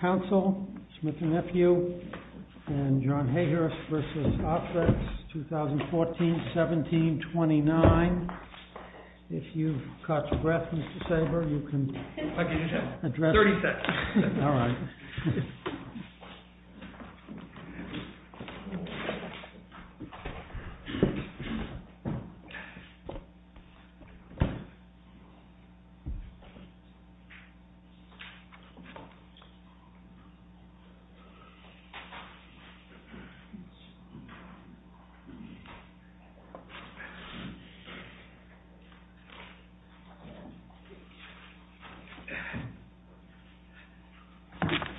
Council, Smith & Nephew, and John Hayhurst v. Arthrex, 2014-17-29 If you've caught your breath, Mr. Sabre, you can address... I can do that. 30 seconds. Alright.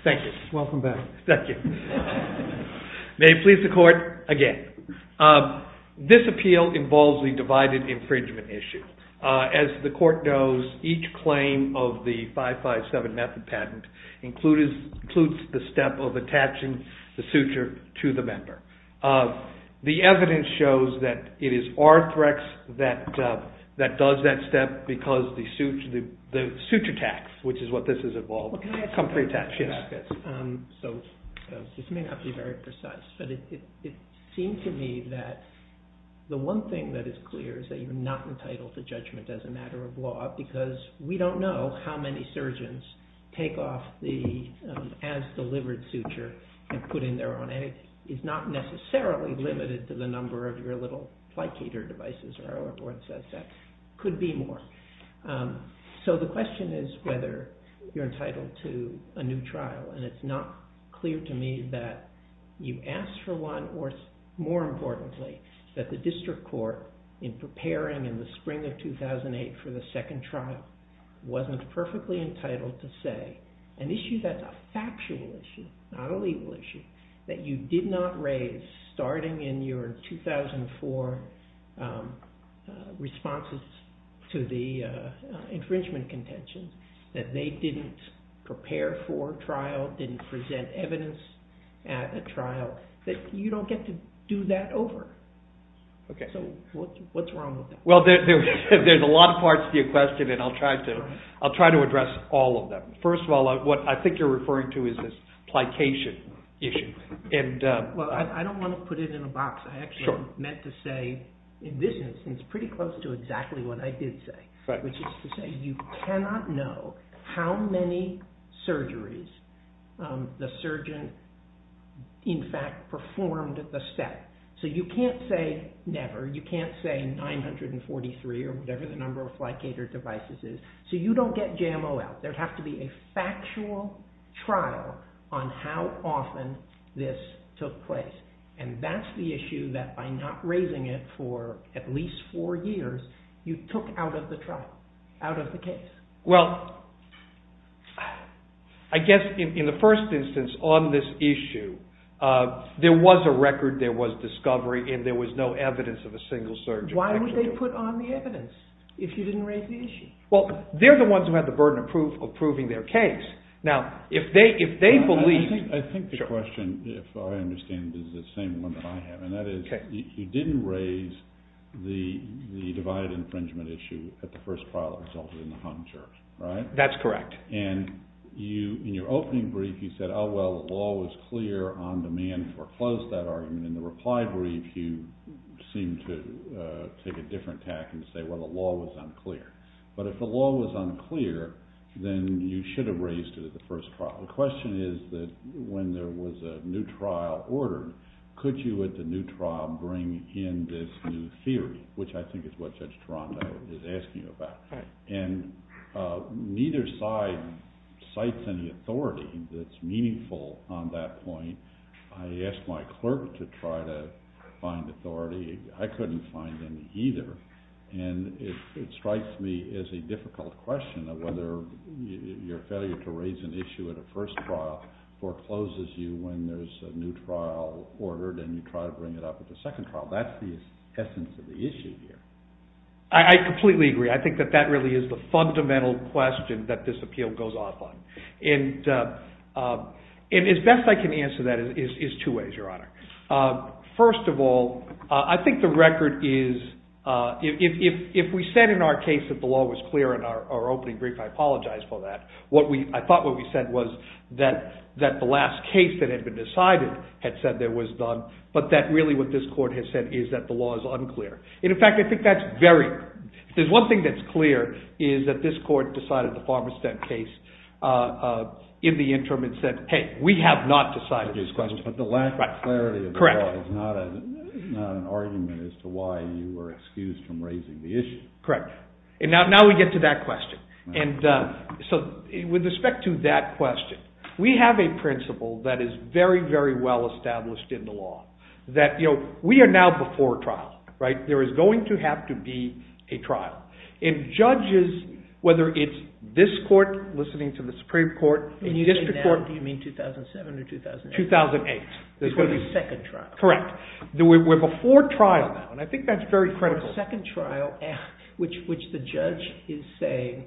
Thank you. Welcome back. Thank you. May it please the court, again. This appeal involves the divided infringement issue. As the court knows, each claim of the 557 method patent includes the step of attaching the suture to the member. The evidence shows that it is Arthrex that does that step because the suture tax, which is what this is involved with, so this may not be very precise, but it seems to me that the one thing that is clear is that you're not entitled to judgment as a matter of law because we don't know how many surgeons take off the as-delivered suture and put in their own. And it's not necessarily limited to the number of your little placater devices or whatever it says. That could be more. So the question is whether you're entitled to a new trial. And it's not clear to me that you asked for one or, more importantly, that the district court, in preparing in the spring of 2008 for the second trial, wasn't perfectly entitled to say an issue that's a factual issue, not a legal issue, that you did not raise starting in your 2004 responses to the infringement contention, that they didn't prepare for a trial, didn't present evidence at a trial, that you don't get to do that over. So what's wrong with that? Well, there's a lot of parts to your question, and I'll try to address all of them. First of all, what I think you're referring to is this placation issue. Well, I don't want to put it in a box. I actually meant to say, in this instance, pretty close to exactly what I did say, which is to say you cannot know how many surgeries the surgeon, in fact, performed the set. So you can't say never. You can't say 943 or whatever the number of placater devices is. So you don't get JMO out. There would have to be a factual trial on how often this took place, and that's the issue that by not raising it for at least four years, you took out of the trial, out of the case. Well, I guess in the first instance on this issue, there was a record, there was discovery, and there was no evidence of a single surgery. Why would they put on the evidence if you didn't raise the issue? Well, they're the ones who had the burden of proving their case. Now, if they believed – I think the question, if I understand it, is the same one that I have, and that is you didn't raise the divided infringement issue at the first trial that resulted in the Hunter, right? That's correct. And in your opening brief, you said, oh, well, the law was clear on demand, foreclosed that argument. And in the reply brief, you seemed to take a different tack and say, well, the law was unclear. But if the law was unclear, then you should have raised it at the first trial. The question is that when there was a new trial ordered, could you at the new trial bring in this new theory, which I think is what Judge Toronto is asking about. And neither side cites any authority that's meaningful on that point. I asked my clerk to try to find authority. I couldn't find any either. And it strikes me as a difficult question of whether your failure to raise an issue at a first trial forecloses you when there's a new trial ordered and you try to bring it up at the second trial. That's the essence of the issue here. I completely agree. I think that that really is the fundamental question that this appeal goes off on. And as best I can answer that is two ways, Your Honor. First of all, I think the record is if we said in our case that the law was clear in our opening brief, I apologize for that. I thought what we said was that the last case that had been decided had said there was none, but that really what this court has said is that the law is unclear. And, in fact, I think that's very clear. If there's one thing that's clear is that this court decided the Farberstead case in the interim and said, hey, we have not decided this question. But the lack of clarity of the law is not an argument as to why you were excused from raising the issue. Correct. And now we get to that question. And so with respect to that question, we have a principle that is very, very well established in the law, that we are now before trial. There is going to have to be a trial. And judges, whether it's this court listening to the Supreme Court, the district court. And you say now, do you mean 2007 or 2008? 2008. There's going to be a second trial. Correct. We're before trial now. And I think that's very critical. Which the judge is saying,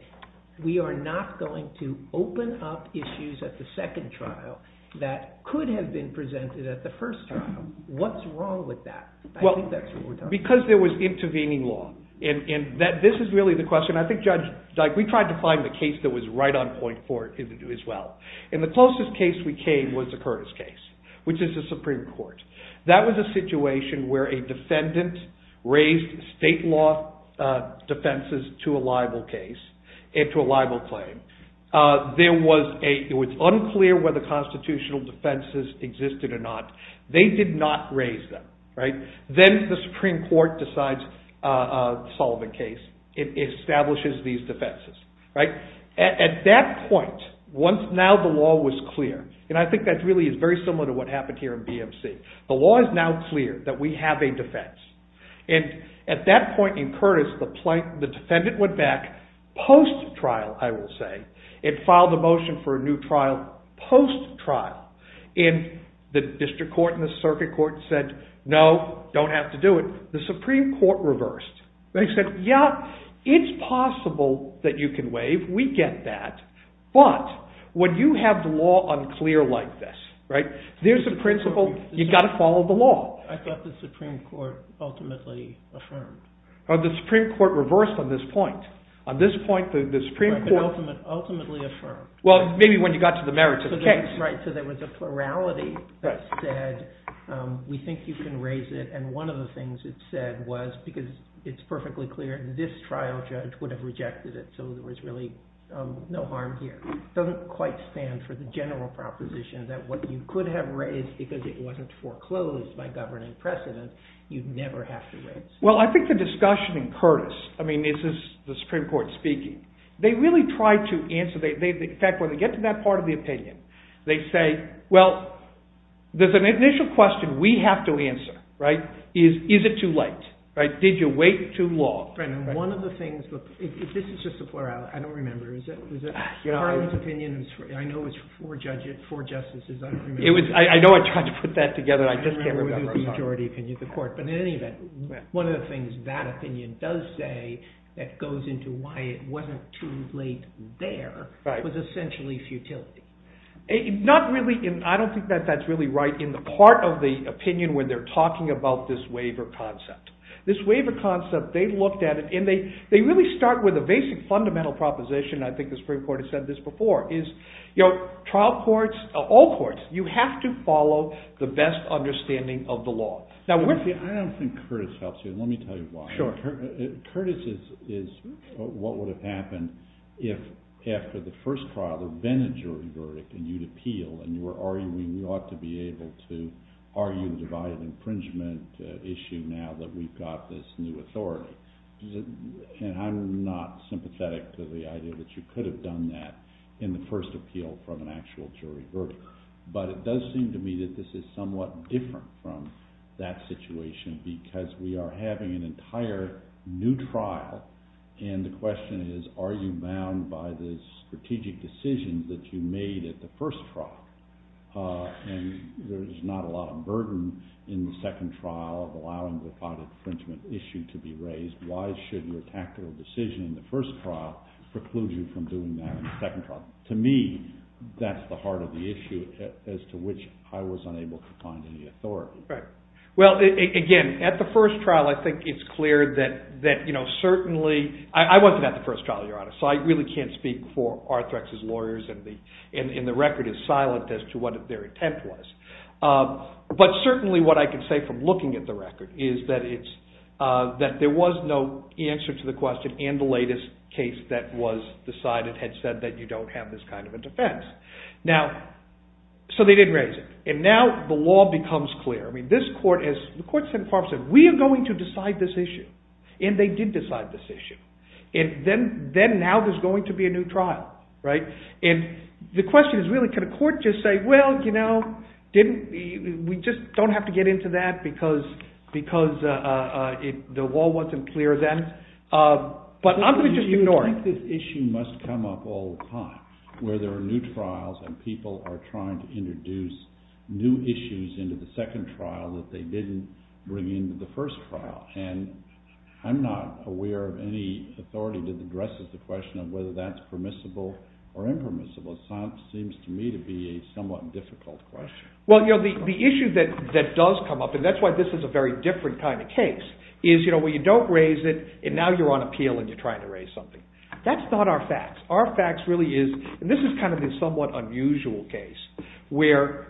we are not going to open up issues at the second trial that could have been presented at the first trial. What's wrong with that? I think that's what we're talking about. Because there was intervening law. And this is really the question. I think, Judge, we tried to find the case that was right on point for it as well. And the closest case we came was the Curtis case, which is the Supreme Court. That was a situation where a defendant raised state law defenses to a liable case and to a liable claim. It was unclear whether constitutional defenses existed or not. They did not raise them. Then the Supreme Court decides to solve the case. It establishes these defenses. At that point, once now the law was clear, and I think that really is very similar to what happened here in BMC, the law is now clear that we have a defense. And at that point in Curtis, the defendant went back post-trial, I would say. It filed a motion for a new trial post-trial. And the district court and the circuit court said, no, don't have to do it. The Supreme Court reversed. They said, yeah, it's possible that you can waive. We get that. But would you have the law unclear like this? There's a principle. You've got to follow the law. I thought the Supreme Court ultimately affirmed. The Supreme Court reversed on this point. On this point, the Supreme Court ultimately affirmed. Well, maybe when you got to the merits of the case. So there was a plurality that said, we think you can raise it. And one of the things it said was, because it's perfectly clear, this trial judge would have rejected it. So there was really no harm here. It doesn't quite stand for the general proposition that what you could have raised, because it wasn't foreclosed by governing precedent, you'd never have to raise. Well, I think the discussion in Curtis, I mean, this is the Supreme Court speaking. They really tried to answer. In fact, when they get to that part of the opinion, they say, well, there's an initial question we have to answer. Is it too late? Did you wait too long? This is just a plurality. I don't remember. I know it was four justices. I don't remember. I know I tried to put that together. I just can't remember. But in any event, one of the things that opinion does say that goes into why it wasn't too late there was essentially futility. I don't think that that's really right. In the part of the opinion where they're talking about this waiver concept, this waiver concept, they looked at it, and they really start with a basic fundamental proposition. I think the Supreme Court has said this before, is trial courts, all courts, you have to follow the best understanding of the law. Now, I don't think Curtis helps you, and let me tell you why. Curtis is what would have happened if after the first trial there had been a jury verdict, and you'd appeal, and you were arguing we ought to be able to argue the divided infringement issue now that we've got this new authority. And I'm not sympathetic to the idea that you could have done that in the first appeal from an actual jury verdict. But it does seem to me that this is somewhat different from that situation because we are having an entire new trial, and the question is are you bound by the strategic decisions that you made at the first trial? And there's not a lot of burden in the second trial of allowing the divided infringement issue to be raised. Why should your tactical decision in the first trial preclude you from doing that in the second trial? To me, that's the heart of the issue as to which I was unable to find any authority. Well, again, at the first trial I think it's clear that certainly – I wasn't at the first trial, to be honest, so I really can't speak for Arthrex's lawyers, and the record is silent as to what their intent was. But certainly what I can say from looking at the record is that there was no answer to the question, and the latest case that was decided had said that you don't have this kind of a defense. Now, so they didn't raise it, and now the law becomes clear. I mean this court has – the court said, we are going to decide this issue, and they did decide this issue. And then now there's going to be a new trial, right? And the question is really can a court just say, well, you know, we just don't have to get into that because the law wasn't clear then. But I'm going to just ignore it. But I think this issue must come up all the time where there are new trials, and people are trying to introduce new issues into the second trial that they didn't bring into the first trial. And I'm not aware of any authority that addresses the question of whether that's permissible or impermissible. It seems to me to be a somewhat difficult question. Well, you know, the issue that does come up, and that's why this is a very different kind of case, is, you know, when you don't raise it, and now you're on appeal and you're trying to raise something. That's not our facts. Our facts really is – and this is kind of a somewhat unusual case where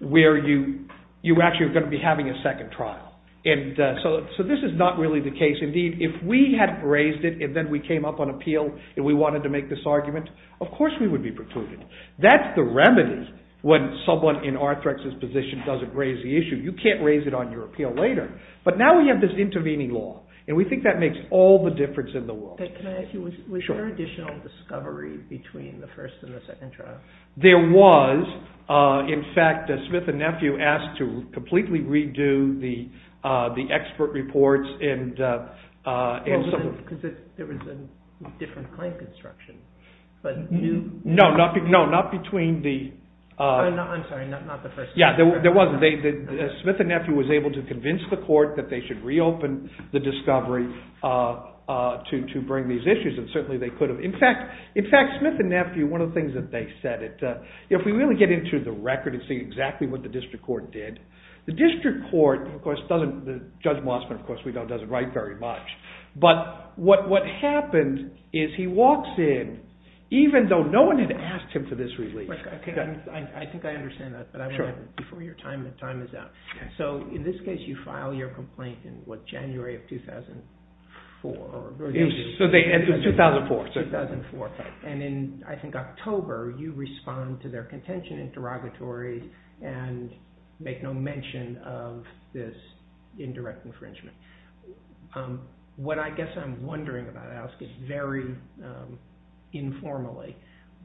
you actually are going to be having a second trial. And so this is not really the case. Indeed, if we had raised it and then we came up on appeal and we wanted to make this argument, of course we would be precluded. That's the remedy when someone in Arthrex's position doesn't raise the issue. You can't raise it on your appeal later. But now we have this intervening law, and we think that makes all the difference in the world. Can I ask you, was there additional discovery between the first and the second trial? There was. In fact, Smith and Nephew asked to completely redo the expert reports. Because there was a different claim construction. No, not between the – I'm sorry, not the first – Yeah, there was. Smith and Nephew was able to convince the court that they should reopen the discovery to bring these issues, and certainly they could have. In fact, Smith and Nephew, one of the things that they said, if we really get into the record and see exactly what the district court did, the district court of course doesn't – Judge Mossman of course we know doesn't write very much. But what happened is he walks in, even though no one had asked him for this relief. I think I understand that, but I want to – before your time is up. So in this case you file your complaint in what, January of 2004? It was 2004. 2004. And in I think October you respond to their contention interrogatory and make no mention of this indirect infringement. What I guess I'm wondering about, I'll ask it very informally,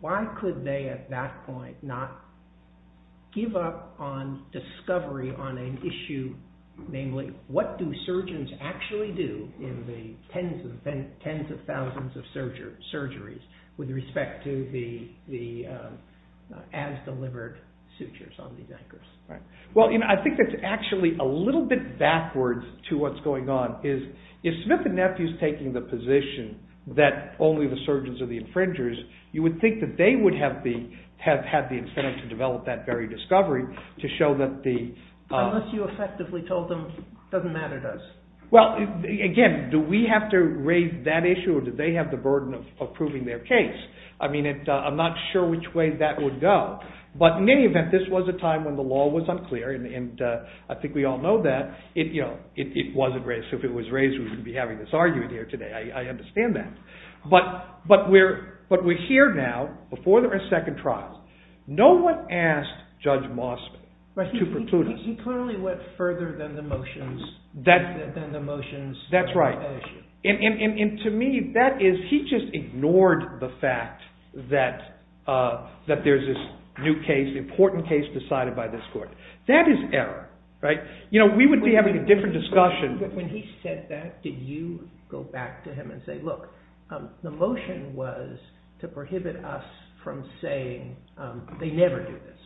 why could they at that point not give up on discovery on an issue, namely what do surgeons actually do in the tens of thousands of surgeries with respect to the as-delivered sutures on these anchors? Well, I think that's actually a little bit backwards to what's going on. If Smith and Nephew is taking the position that only the surgeons are the infringers, you would think that they would have the incentive to develop that very discovery to show that the – Unless you effectively told them it doesn't matter to us. Well, again, do we have to raise that issue or do they have the burden of proving their case? I mean I'm not sure which way that would go. But in any event this was a time when the law was unclear and I think we all know that. It wasn't raised, so if it was raised we wouldn't be having this argument here today. I understand that. But we're here now before there are second trials. No one asked Judge Mossman to preclude us. He clearly went further than the motions. That's right. And to me that is – he just ignored the fact that there's this new case, important case decided by this court. That is error. We would be having a different discussion. But when he said that, did you go back to him and say, look, the motion was to prohibit us from saying they never do this.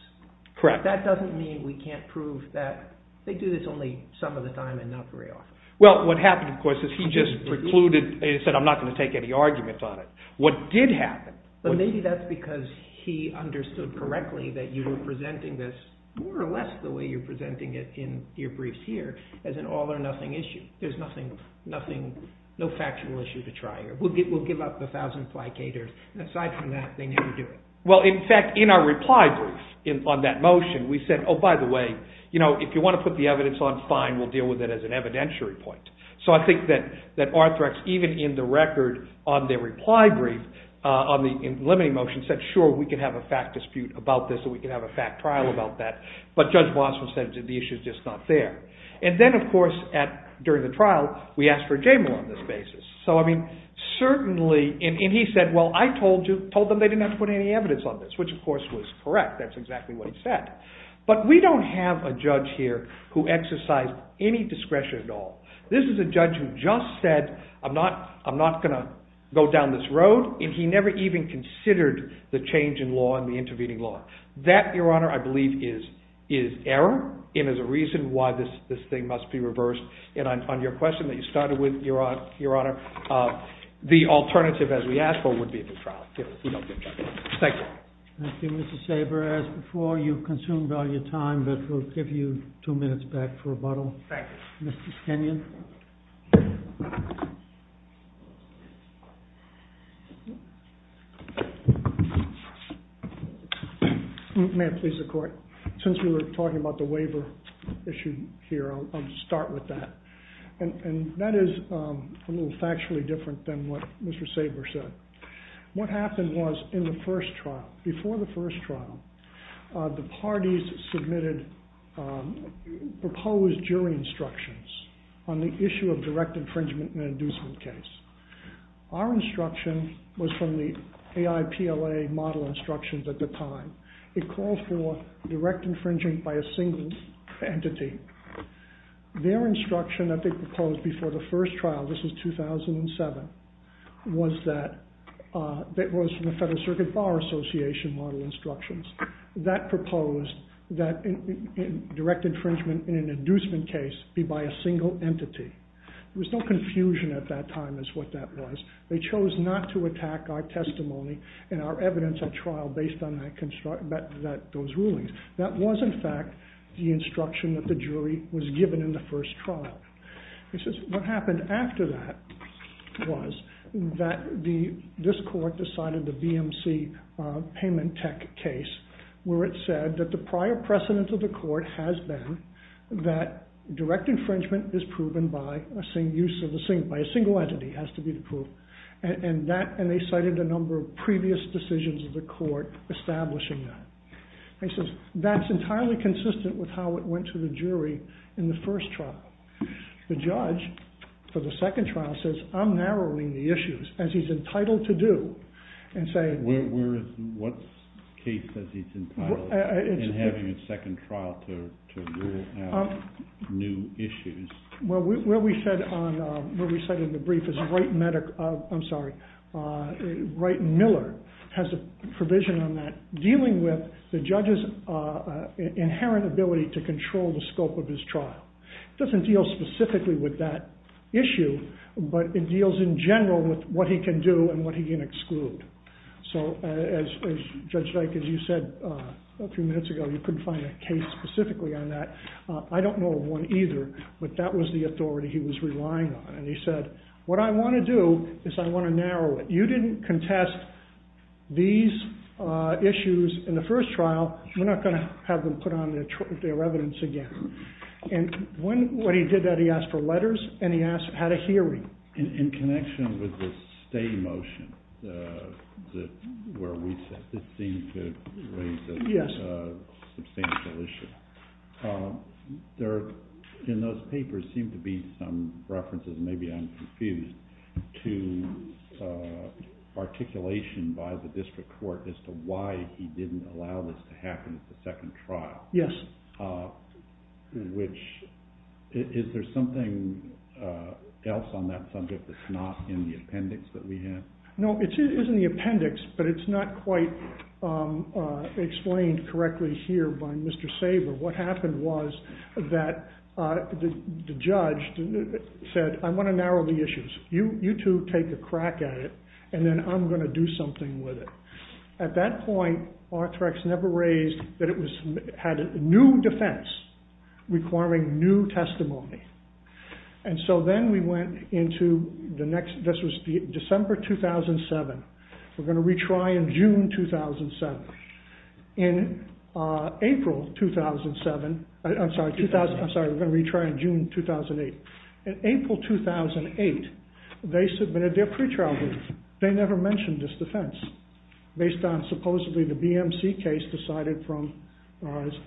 Correct. That doesn't mean we can't prove that they do this only some of the time and not very often. Well, what happened, of course, is he just precluded – he said I'm not going to take any arguments on it. What did happen – But maybe that's because he understood correctly that you were presenting this more or less the way you're presenting it in your briefs here as an all or nothing issue. There's nothing – no factual issue to try here. We'll give up a thousand placaters. Aside from that, they never do it. Well, in fact, in our reply brief on that motion, we said, oh, by the way, if you want to put the evidence on, fine, we'll deal with it as an evidentiary point. So I think that Arthrex, even in the record on their reply brief on the limiting motion, said, sure, we can have a fact dispute about this or we can have a fact trial about that. But Judge Boston said the issue is just not there. And then, of course, during the trial, we asked for a J-more on this basis. So, I mean, certainly – and he said, well, I told them they didn't have to put any evidence on this, which, of course, was correct. That's exactly what he said. But we don't have a judge here who exercised any discretion at all. This is a judge who just said I'm not going to go down this road, and he never even considered the change in law and the intervening law. That, Your Honor, I believe is error and is a reason why this thing must be reversed. And on your question that you started with, Your Honor, the alternative, as we asked for, would be a trial. Thank you. Thank you, Mr. Saber. As before, you've consumed all your time, but we'll give you two minutes back for rebuttal. Thank you. Mr. Kenyon. May it please the Court. Since we were talking about the waiver issue here, I'll start with that. And that is a little factually different than what Mr. Saber said. What happened was in the first trial, before the first trial, the parties submitted proposed jury instructions on the issue of direct infringement in an inducement case. Our instruction was from the AIPLA model instructions at the time. It called for direct infringement by a single entity. Their instruction that they proposed before the first trial, this was 2007, was from the Federal Circuit Bar Association model instructions. That proposed that direct infringement in an inducement case be by a single entity. There was no confusion at that time as to what that was. They chose not to attack our testimony and our evidence at trial based on those rulings. That was, in fact, the instruction that the jury was given in the first trial. What happened after that was that this Court decided the BMC payment tech case, where it said that the prior precedent of the Court has been that direct infringement is proven by a single entity. And they cited a number of previous decisions of the Court establishing that. That's entirely consistent with how it went to the jury in the first trial. The judge for the second trial says, I'm narrowing the issues, as he's entitled to do. What case says he's entitled in having a second trial to rule out new issues? What we said in the brief is Wright Miller has a provision on that, dealing with the judge's inherent ability to control the scope of his trial. It doesn't deal specifically with that issue, but it deals in general with what he can do and what he can exclude. So as Judge Dyke, as you said a few minutes ago, you couldn't find a case specifically on that. I don't know of one either, but that was the authority he was relying on. And he said, what I want to do is I want to narrow it. You didn't contest these issues in the first trial. We're not going to have them put on their evidence again. And when he did that, he asked for letters, and he asked how to hear him. In connection with the stay motion, where we said this seemed to raise a substantial issue, there in those papers seemed to be some references, maybe I'm confused, to articulation by the District Court as to why he didn't allow this to happen at the second trial. Is there something else on that subject that's not in the appendix that we have? No, it is in the appendix, but it's not quite explained correctly here by Mr. Saber. What happened was that the judge said, I want to narrow the issues. You two take a crack at it, and then I'm going to do something with it. At that point, Arthrex never raised that it had a new defense requiring new testimony. And so then we went into the next, this was December 2007. We're going to retry in June 2007. In April 2007, I'm sorry, we're going to retry in June 2008. In April 2008, they submitted their pretrial brief. They never mentioned this defense, based on supposedly the BMC case decided from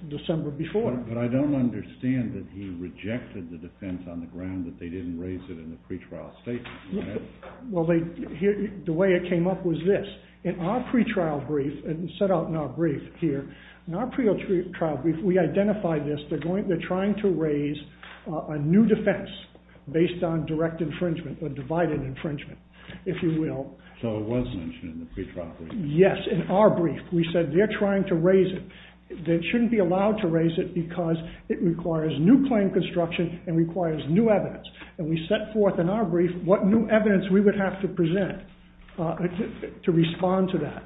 December before. But I don't understand that he rejected the defense on the ground that they didn't raise it in the pretrial statement. Well, the way it came up was this. In our pretrial brief, and it's set out in our brief here, In our pretrial brief, we identified this. They're trying to raise a new defense based on direct infringement, or divided infringement, if you will. So it was mentioned in the pretrial brief. Yes, in our brief. We said they're trying to raise it. They shouldn't be allowed to raise it because it requires new claim construction and requires new evidence. And we set forth in our brief what new evidence we would have to present to respond to that.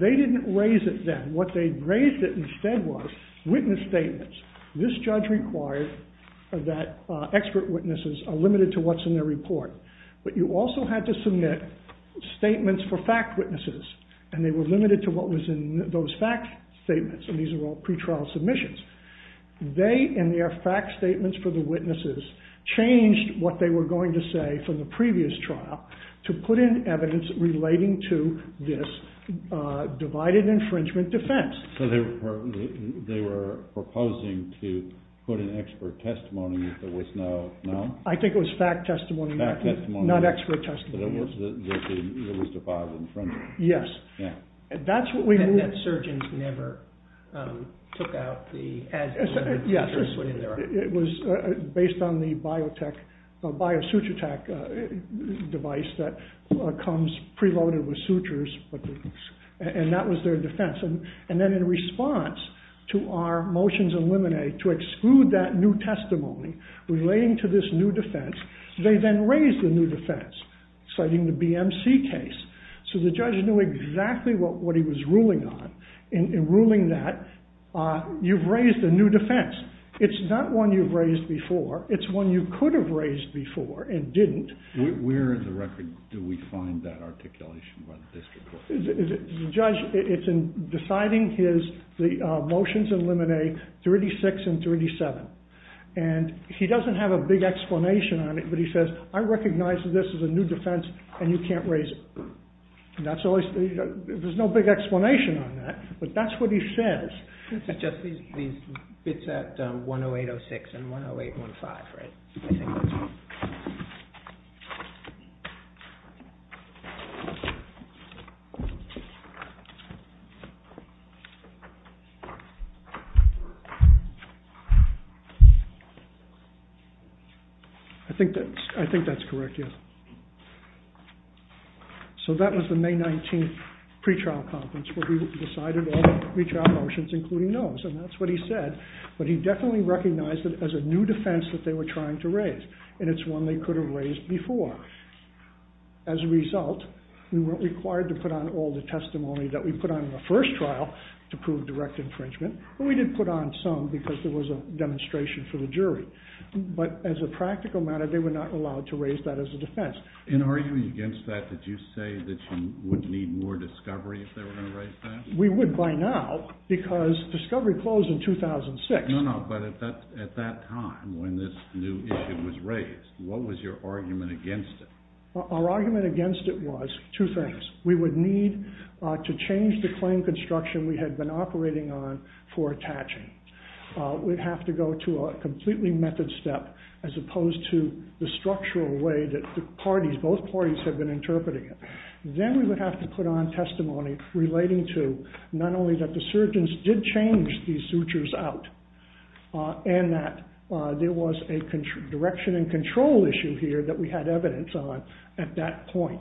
They didn't raise it then. What they raised instead was witness statements. This judge required that expert witnesses are limited to what's in their report. But you also had to submit statements for fact witnesses. And they were limited to what was in those fact statements. And these were all pretrial submissions. They and their fact statements for the witnesses changed what they were going to say from the previous trial to put in evidence relating to this divided infringement defense. So they were proposing to put in expert testimony if there was no, no? I think it was fact testimony. Fact testimony. Not expert testimony. But it was defiled infringement. Yes. Yeah. And that's what we... And that surgeons never took out the... Yeah, sure... comes preloaded with sutures. And that was their defense. And then in response to our motions eliminate to exclude that new testimony relating to this new defense, they then raised a new defense citing the BMC case. So the judge knew exactly what he was ruling on. In ruling that, you've raised a new defense. It's not one you've raised before. It's one you could have raised before and didn't. Where in the record do we find that articulation by the district court? The judge, it's in deciding his motions eliminate 36 and 37. And he doesn't have a big explanation on it, but he says, I recognize that this is a new defense and you can't raise it. There's no big explanation on that, but that's what he says. This is just these bits at 108.06 and 108.15, right? I think that's correct, yes. So that was the May 19th pre-trial conference where we decided all the pre-trial motions including those. And that's what he said. But he definitely recognized it as a new defense that they were trying to raise. And it's one they could have raised before. As a result, we weren't required to put on all the testimony that we put on in the first trial to prove direct infringement. But we did put on some because there was a demonstration for the jury. But as a practical matter, they were not allowed to raise that as a defense. In arguing against that, did you say that you would need more discovery if they were going to raise that? We would by now because discovery closed in 2006. No, no, but at that time when this new issue was raised, what was your argument against it? Our argument against it was two things. We would need to change the claim construction we had been operating on for attaching. We'd have to go to a completely method step as opposed to the structural way that both parties had been interpreting it. Then we would have to put on testimony relating to not only that the surgeons did change these sutures out and that there was a direction and control issue here that we had evidence on at that point.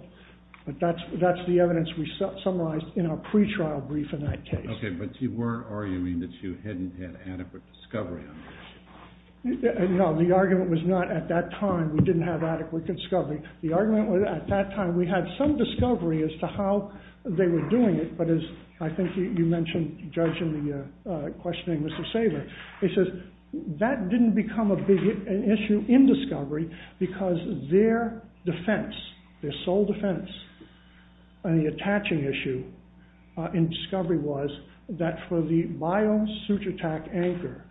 But that's the evidence we summarized in our pre-trial brief in that case. Okay, but you weren't arguing that you hadn't had adequate discovery on this? No, the argument was not at that time we didn't have adequate discovery. The argument was at that time we had some discovery as to how they were doing it, but as I think you mentioned, judging the questioning of Mr. Saber, it says that didn't become a big issue in discovery because their defense, their sole defense on the attaching issue in discovery was that for the biome suture attack anchor,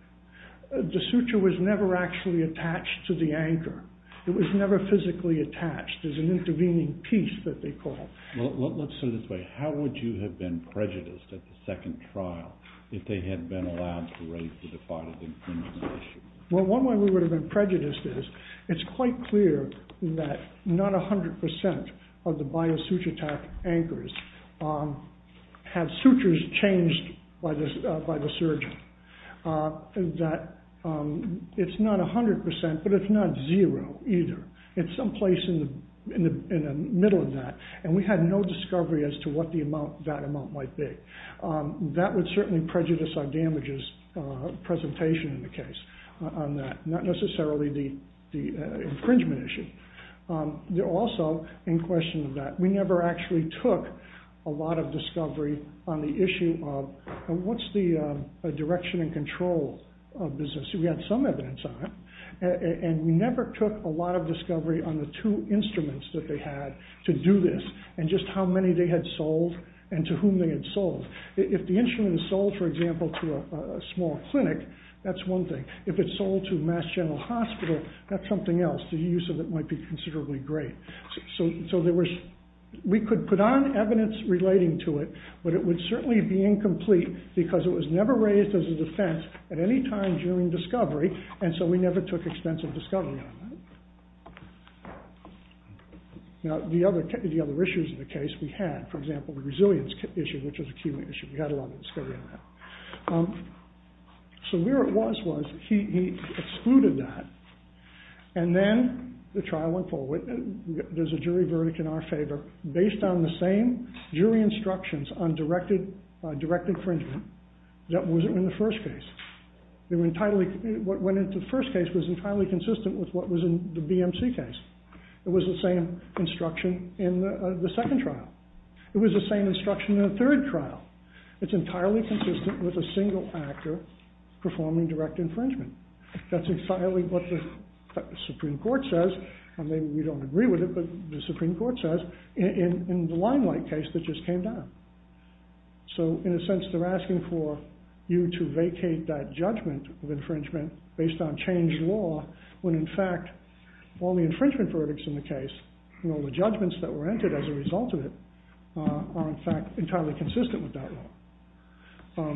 the suture was never actually attached to the anchor. It was never physically attached. There's an intervening piece that they called. Well, let's put it this way. How would you have been prejudiced at the second trial if they had been allowed to raise the defied infringement issue? Well, one way we would have been prejudiced is it's quite clear that not 100% of the biome suture attack anchors had sutures changed by the surgeon. It's not 100%, but it's not zero either. It's someplace in the middle of that, and we had no discovery as to what that amount might be. That would certainly prejudice our damages presentation in the case on that, not necessarily the infringement issue. Also, in question of that, we never actually took a lot of discovery on the issue of what's the direction and control of business. We had some evidence on it, and we never took a lot of discovery on the two instruments that they had to do this and just how many they had sold and to whom they had sold. If the instrument sold, for example, to a small clinic, that's one thing. If it sold to Mass General Hospital, that's something else. The use of it might be considerably great. We could put on evidence relating to it, but it would certainly be incomplete because it was never raised as a defense at any time during discovery, and so we never took extensive discovery on that. Now, the other issues in the case we had, for example, the resilience issue, which was a key issue. We had a lot of discovery on that. So where it was was he excluded that, and then the trial went forward. There's a jury verdict in our favor. Based on the same jury instructions on directed infringement, that wasn't in the first case. What went into the first case was entirely consistent with what was in the BMC case. It was the same instruction in the second trial. It was the same instruction in the third trial. It's entirely consistent with a single actor performing direct infringement. That's exactly what the Supreme Court says, and maybe we don't agree with it, but the Supreme Court says in the Limelight case that just came down. So, in a sense, they're asking for you to vacate that judgment of infringement based on changed law when, in fact, all the infringement verdicts in the case, all the judgments that were entered as a result of it, are, in fact, entirely consistent with that law.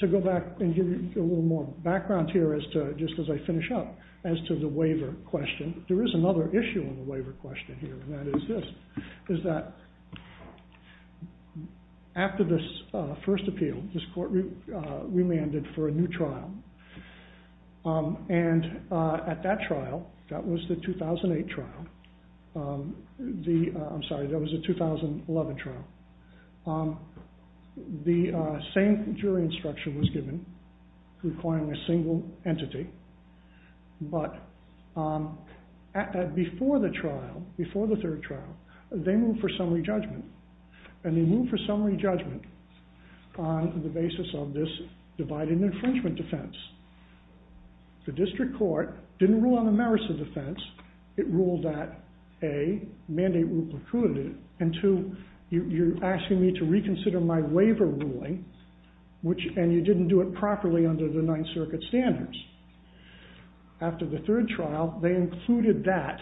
To go back and give you a little more background here just as I finish up, as to the waiver question, there is another issue in the waiver question here, and that is this, is that after this first appeal, this court remanded for a new trial, and at that trial, that was the 2008 trial, I'm sorry, that was the 2011 trial, the same jury instruction was given, requiring a single entity, but before the trial, before the third trial, they moved for summary judgment, and they moved for summary judgment on the basis of this divided infringement defense. The district court didn't rule on the merits of defense, it ruled that, A, mandate rule precluded it, and two, you're asking me to reconsider my waiver ruling, and you didn't do it properly under the Ninth Circuit standards. After the third trial, they included that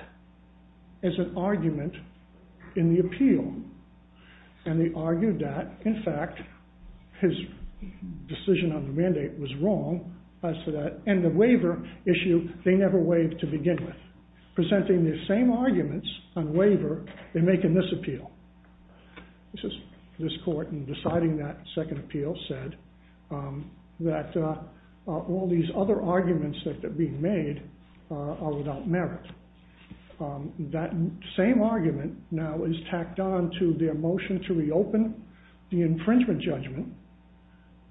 as an argument in the appeal, and they argued that, in fact, his decision on the mandate was wrong, and the waiver issue, they never waived to begin with, presenting the same arguments on waiver in making this appeal. This court, in deciding that second appeal, said that all these other arguments that are being made are without merit. That same argument now is tacked on to their motion to reopen the infringement judgment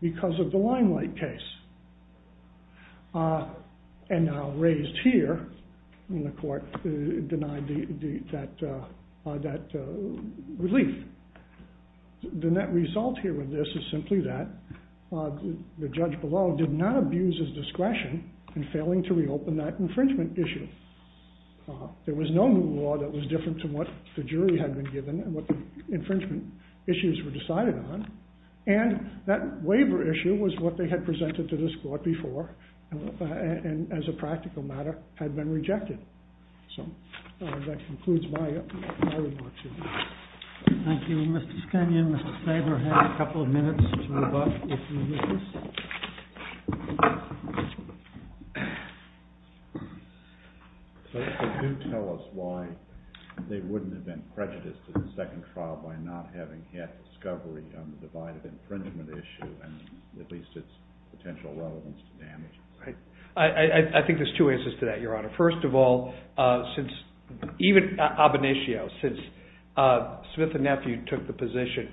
because of the Limelight case, and now raised here, and the court denied that relief. The net result here with this is simply that the judge below did not abuse his discretion in failing to reopen that infringement issue. There was no new law that was different to what the jury had been given and what the infringement issues were decided on, and that waiver issue was what they had presented to this court before, and as a practical matter, had been rejected. So that concludes my remarks here. Thank you. Mr. Skanyan, Mr. Spavor, have a couple of minutes to move up if you wish. So do tell us why they wouldn't have been prejudiced in the second trial by not having had discovery on the divided infringement issue and at least its potential relevance to damage. I think there's two answers to that, Your Honor. First of all, since even ab initio, since Smith and Nephew took the position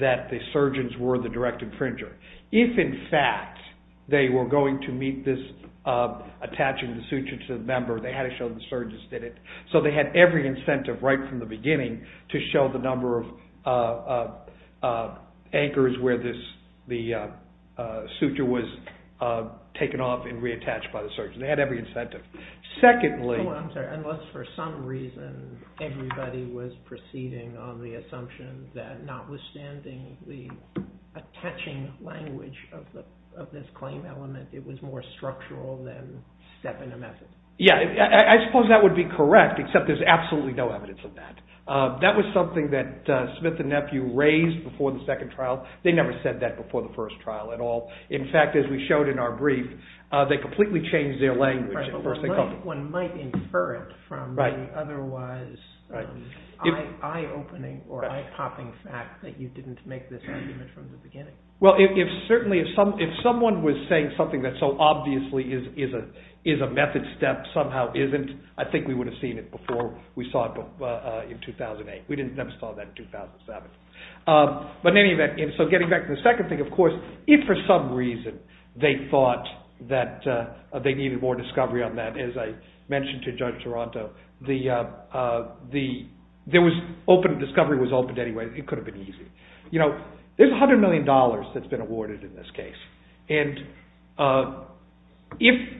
that the surgeons were the direct infringer, if in fact they were going to meet this attaching the suture to the member, they had to show the surgeons did it. So they had every incentive right from the beginning to show the number of anchors where the suture was taken off and reattached by the surgeon. They had every incentive. I'm sorry, unless for some reason everybody was proceeding on the assumption that notwithstanding the attaching language of this claim element, it was more structural than stepping a method. I suppose that would be correct, except there's absolutely no evidence of that. That was something that Smith and Nephew raised before the second trial. They never said that before the first trial at all. In fact, as we showed in our brief, they completely changed their language. One might infer it from the otherwise eye-opening or eye-popping fact that you didn't make this argument from the beginning. Well, certainly if someone was saying something that so obviously is a method step, somehow isn't, I think we would have seen it before we saw it in 2008. We never saw that in 2007. But in any event, getting back to the second thing, of course, if for some reason they thought that they needed more discovery on that, as I mentioned to Judge Toronto, the discovery was opened anyway. It could have been easy. There's $100 million that's been awarded in this case.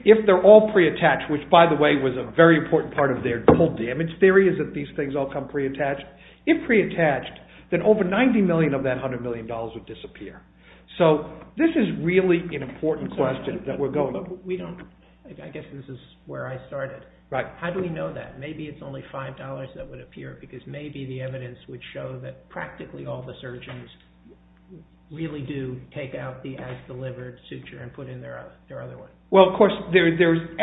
If they're all pre-attached, which by the way was a very important part of their damage theory, is that these things all come pre-attached. If pre-attached, then over $90 million of that $100 million would disappear. So this is really an important question that we're going to. I guess this is where I started. How do we know that? Maybe it's only $5 that would appear because maybe the evidence would show that practically all the surgeons really do take out the as-delivered suture and put in their other one. Well, of course,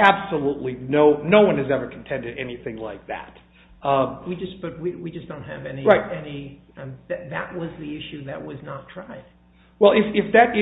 absolutely no one has ever contended anything like that. But we just don't have any. That was the issue that was not tried. Well, if that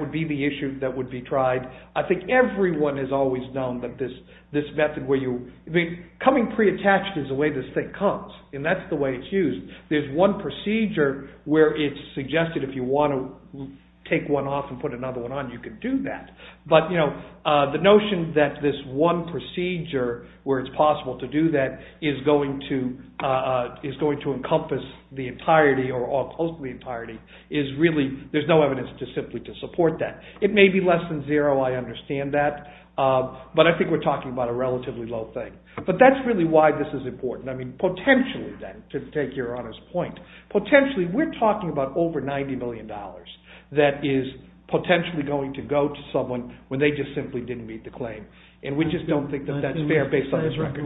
would be the issue that would be tried, I think everyone has always known that this method where you – coming pre-attached is the way this thing comes, and that's the way it's used. There's one procedure where it's suggested if you want to take one off and put another one on, you could do that. But the notion that this one procedure where it's possible to do that is going to encompass the entirety or all close to the entirety is really – there's no evidence to simply to support that. It may be less than zero. I understand that. But I think we're talking about a relatively low thing. But that's really why this is important. I mean, potentially, then, to take Your Honor's point, potentially we're talking about over $90 million that is potentially going to go to someone when they just simply didn't meet the claim. And we just don't think that that's fair based on this record.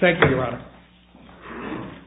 Thank you, Your Honor.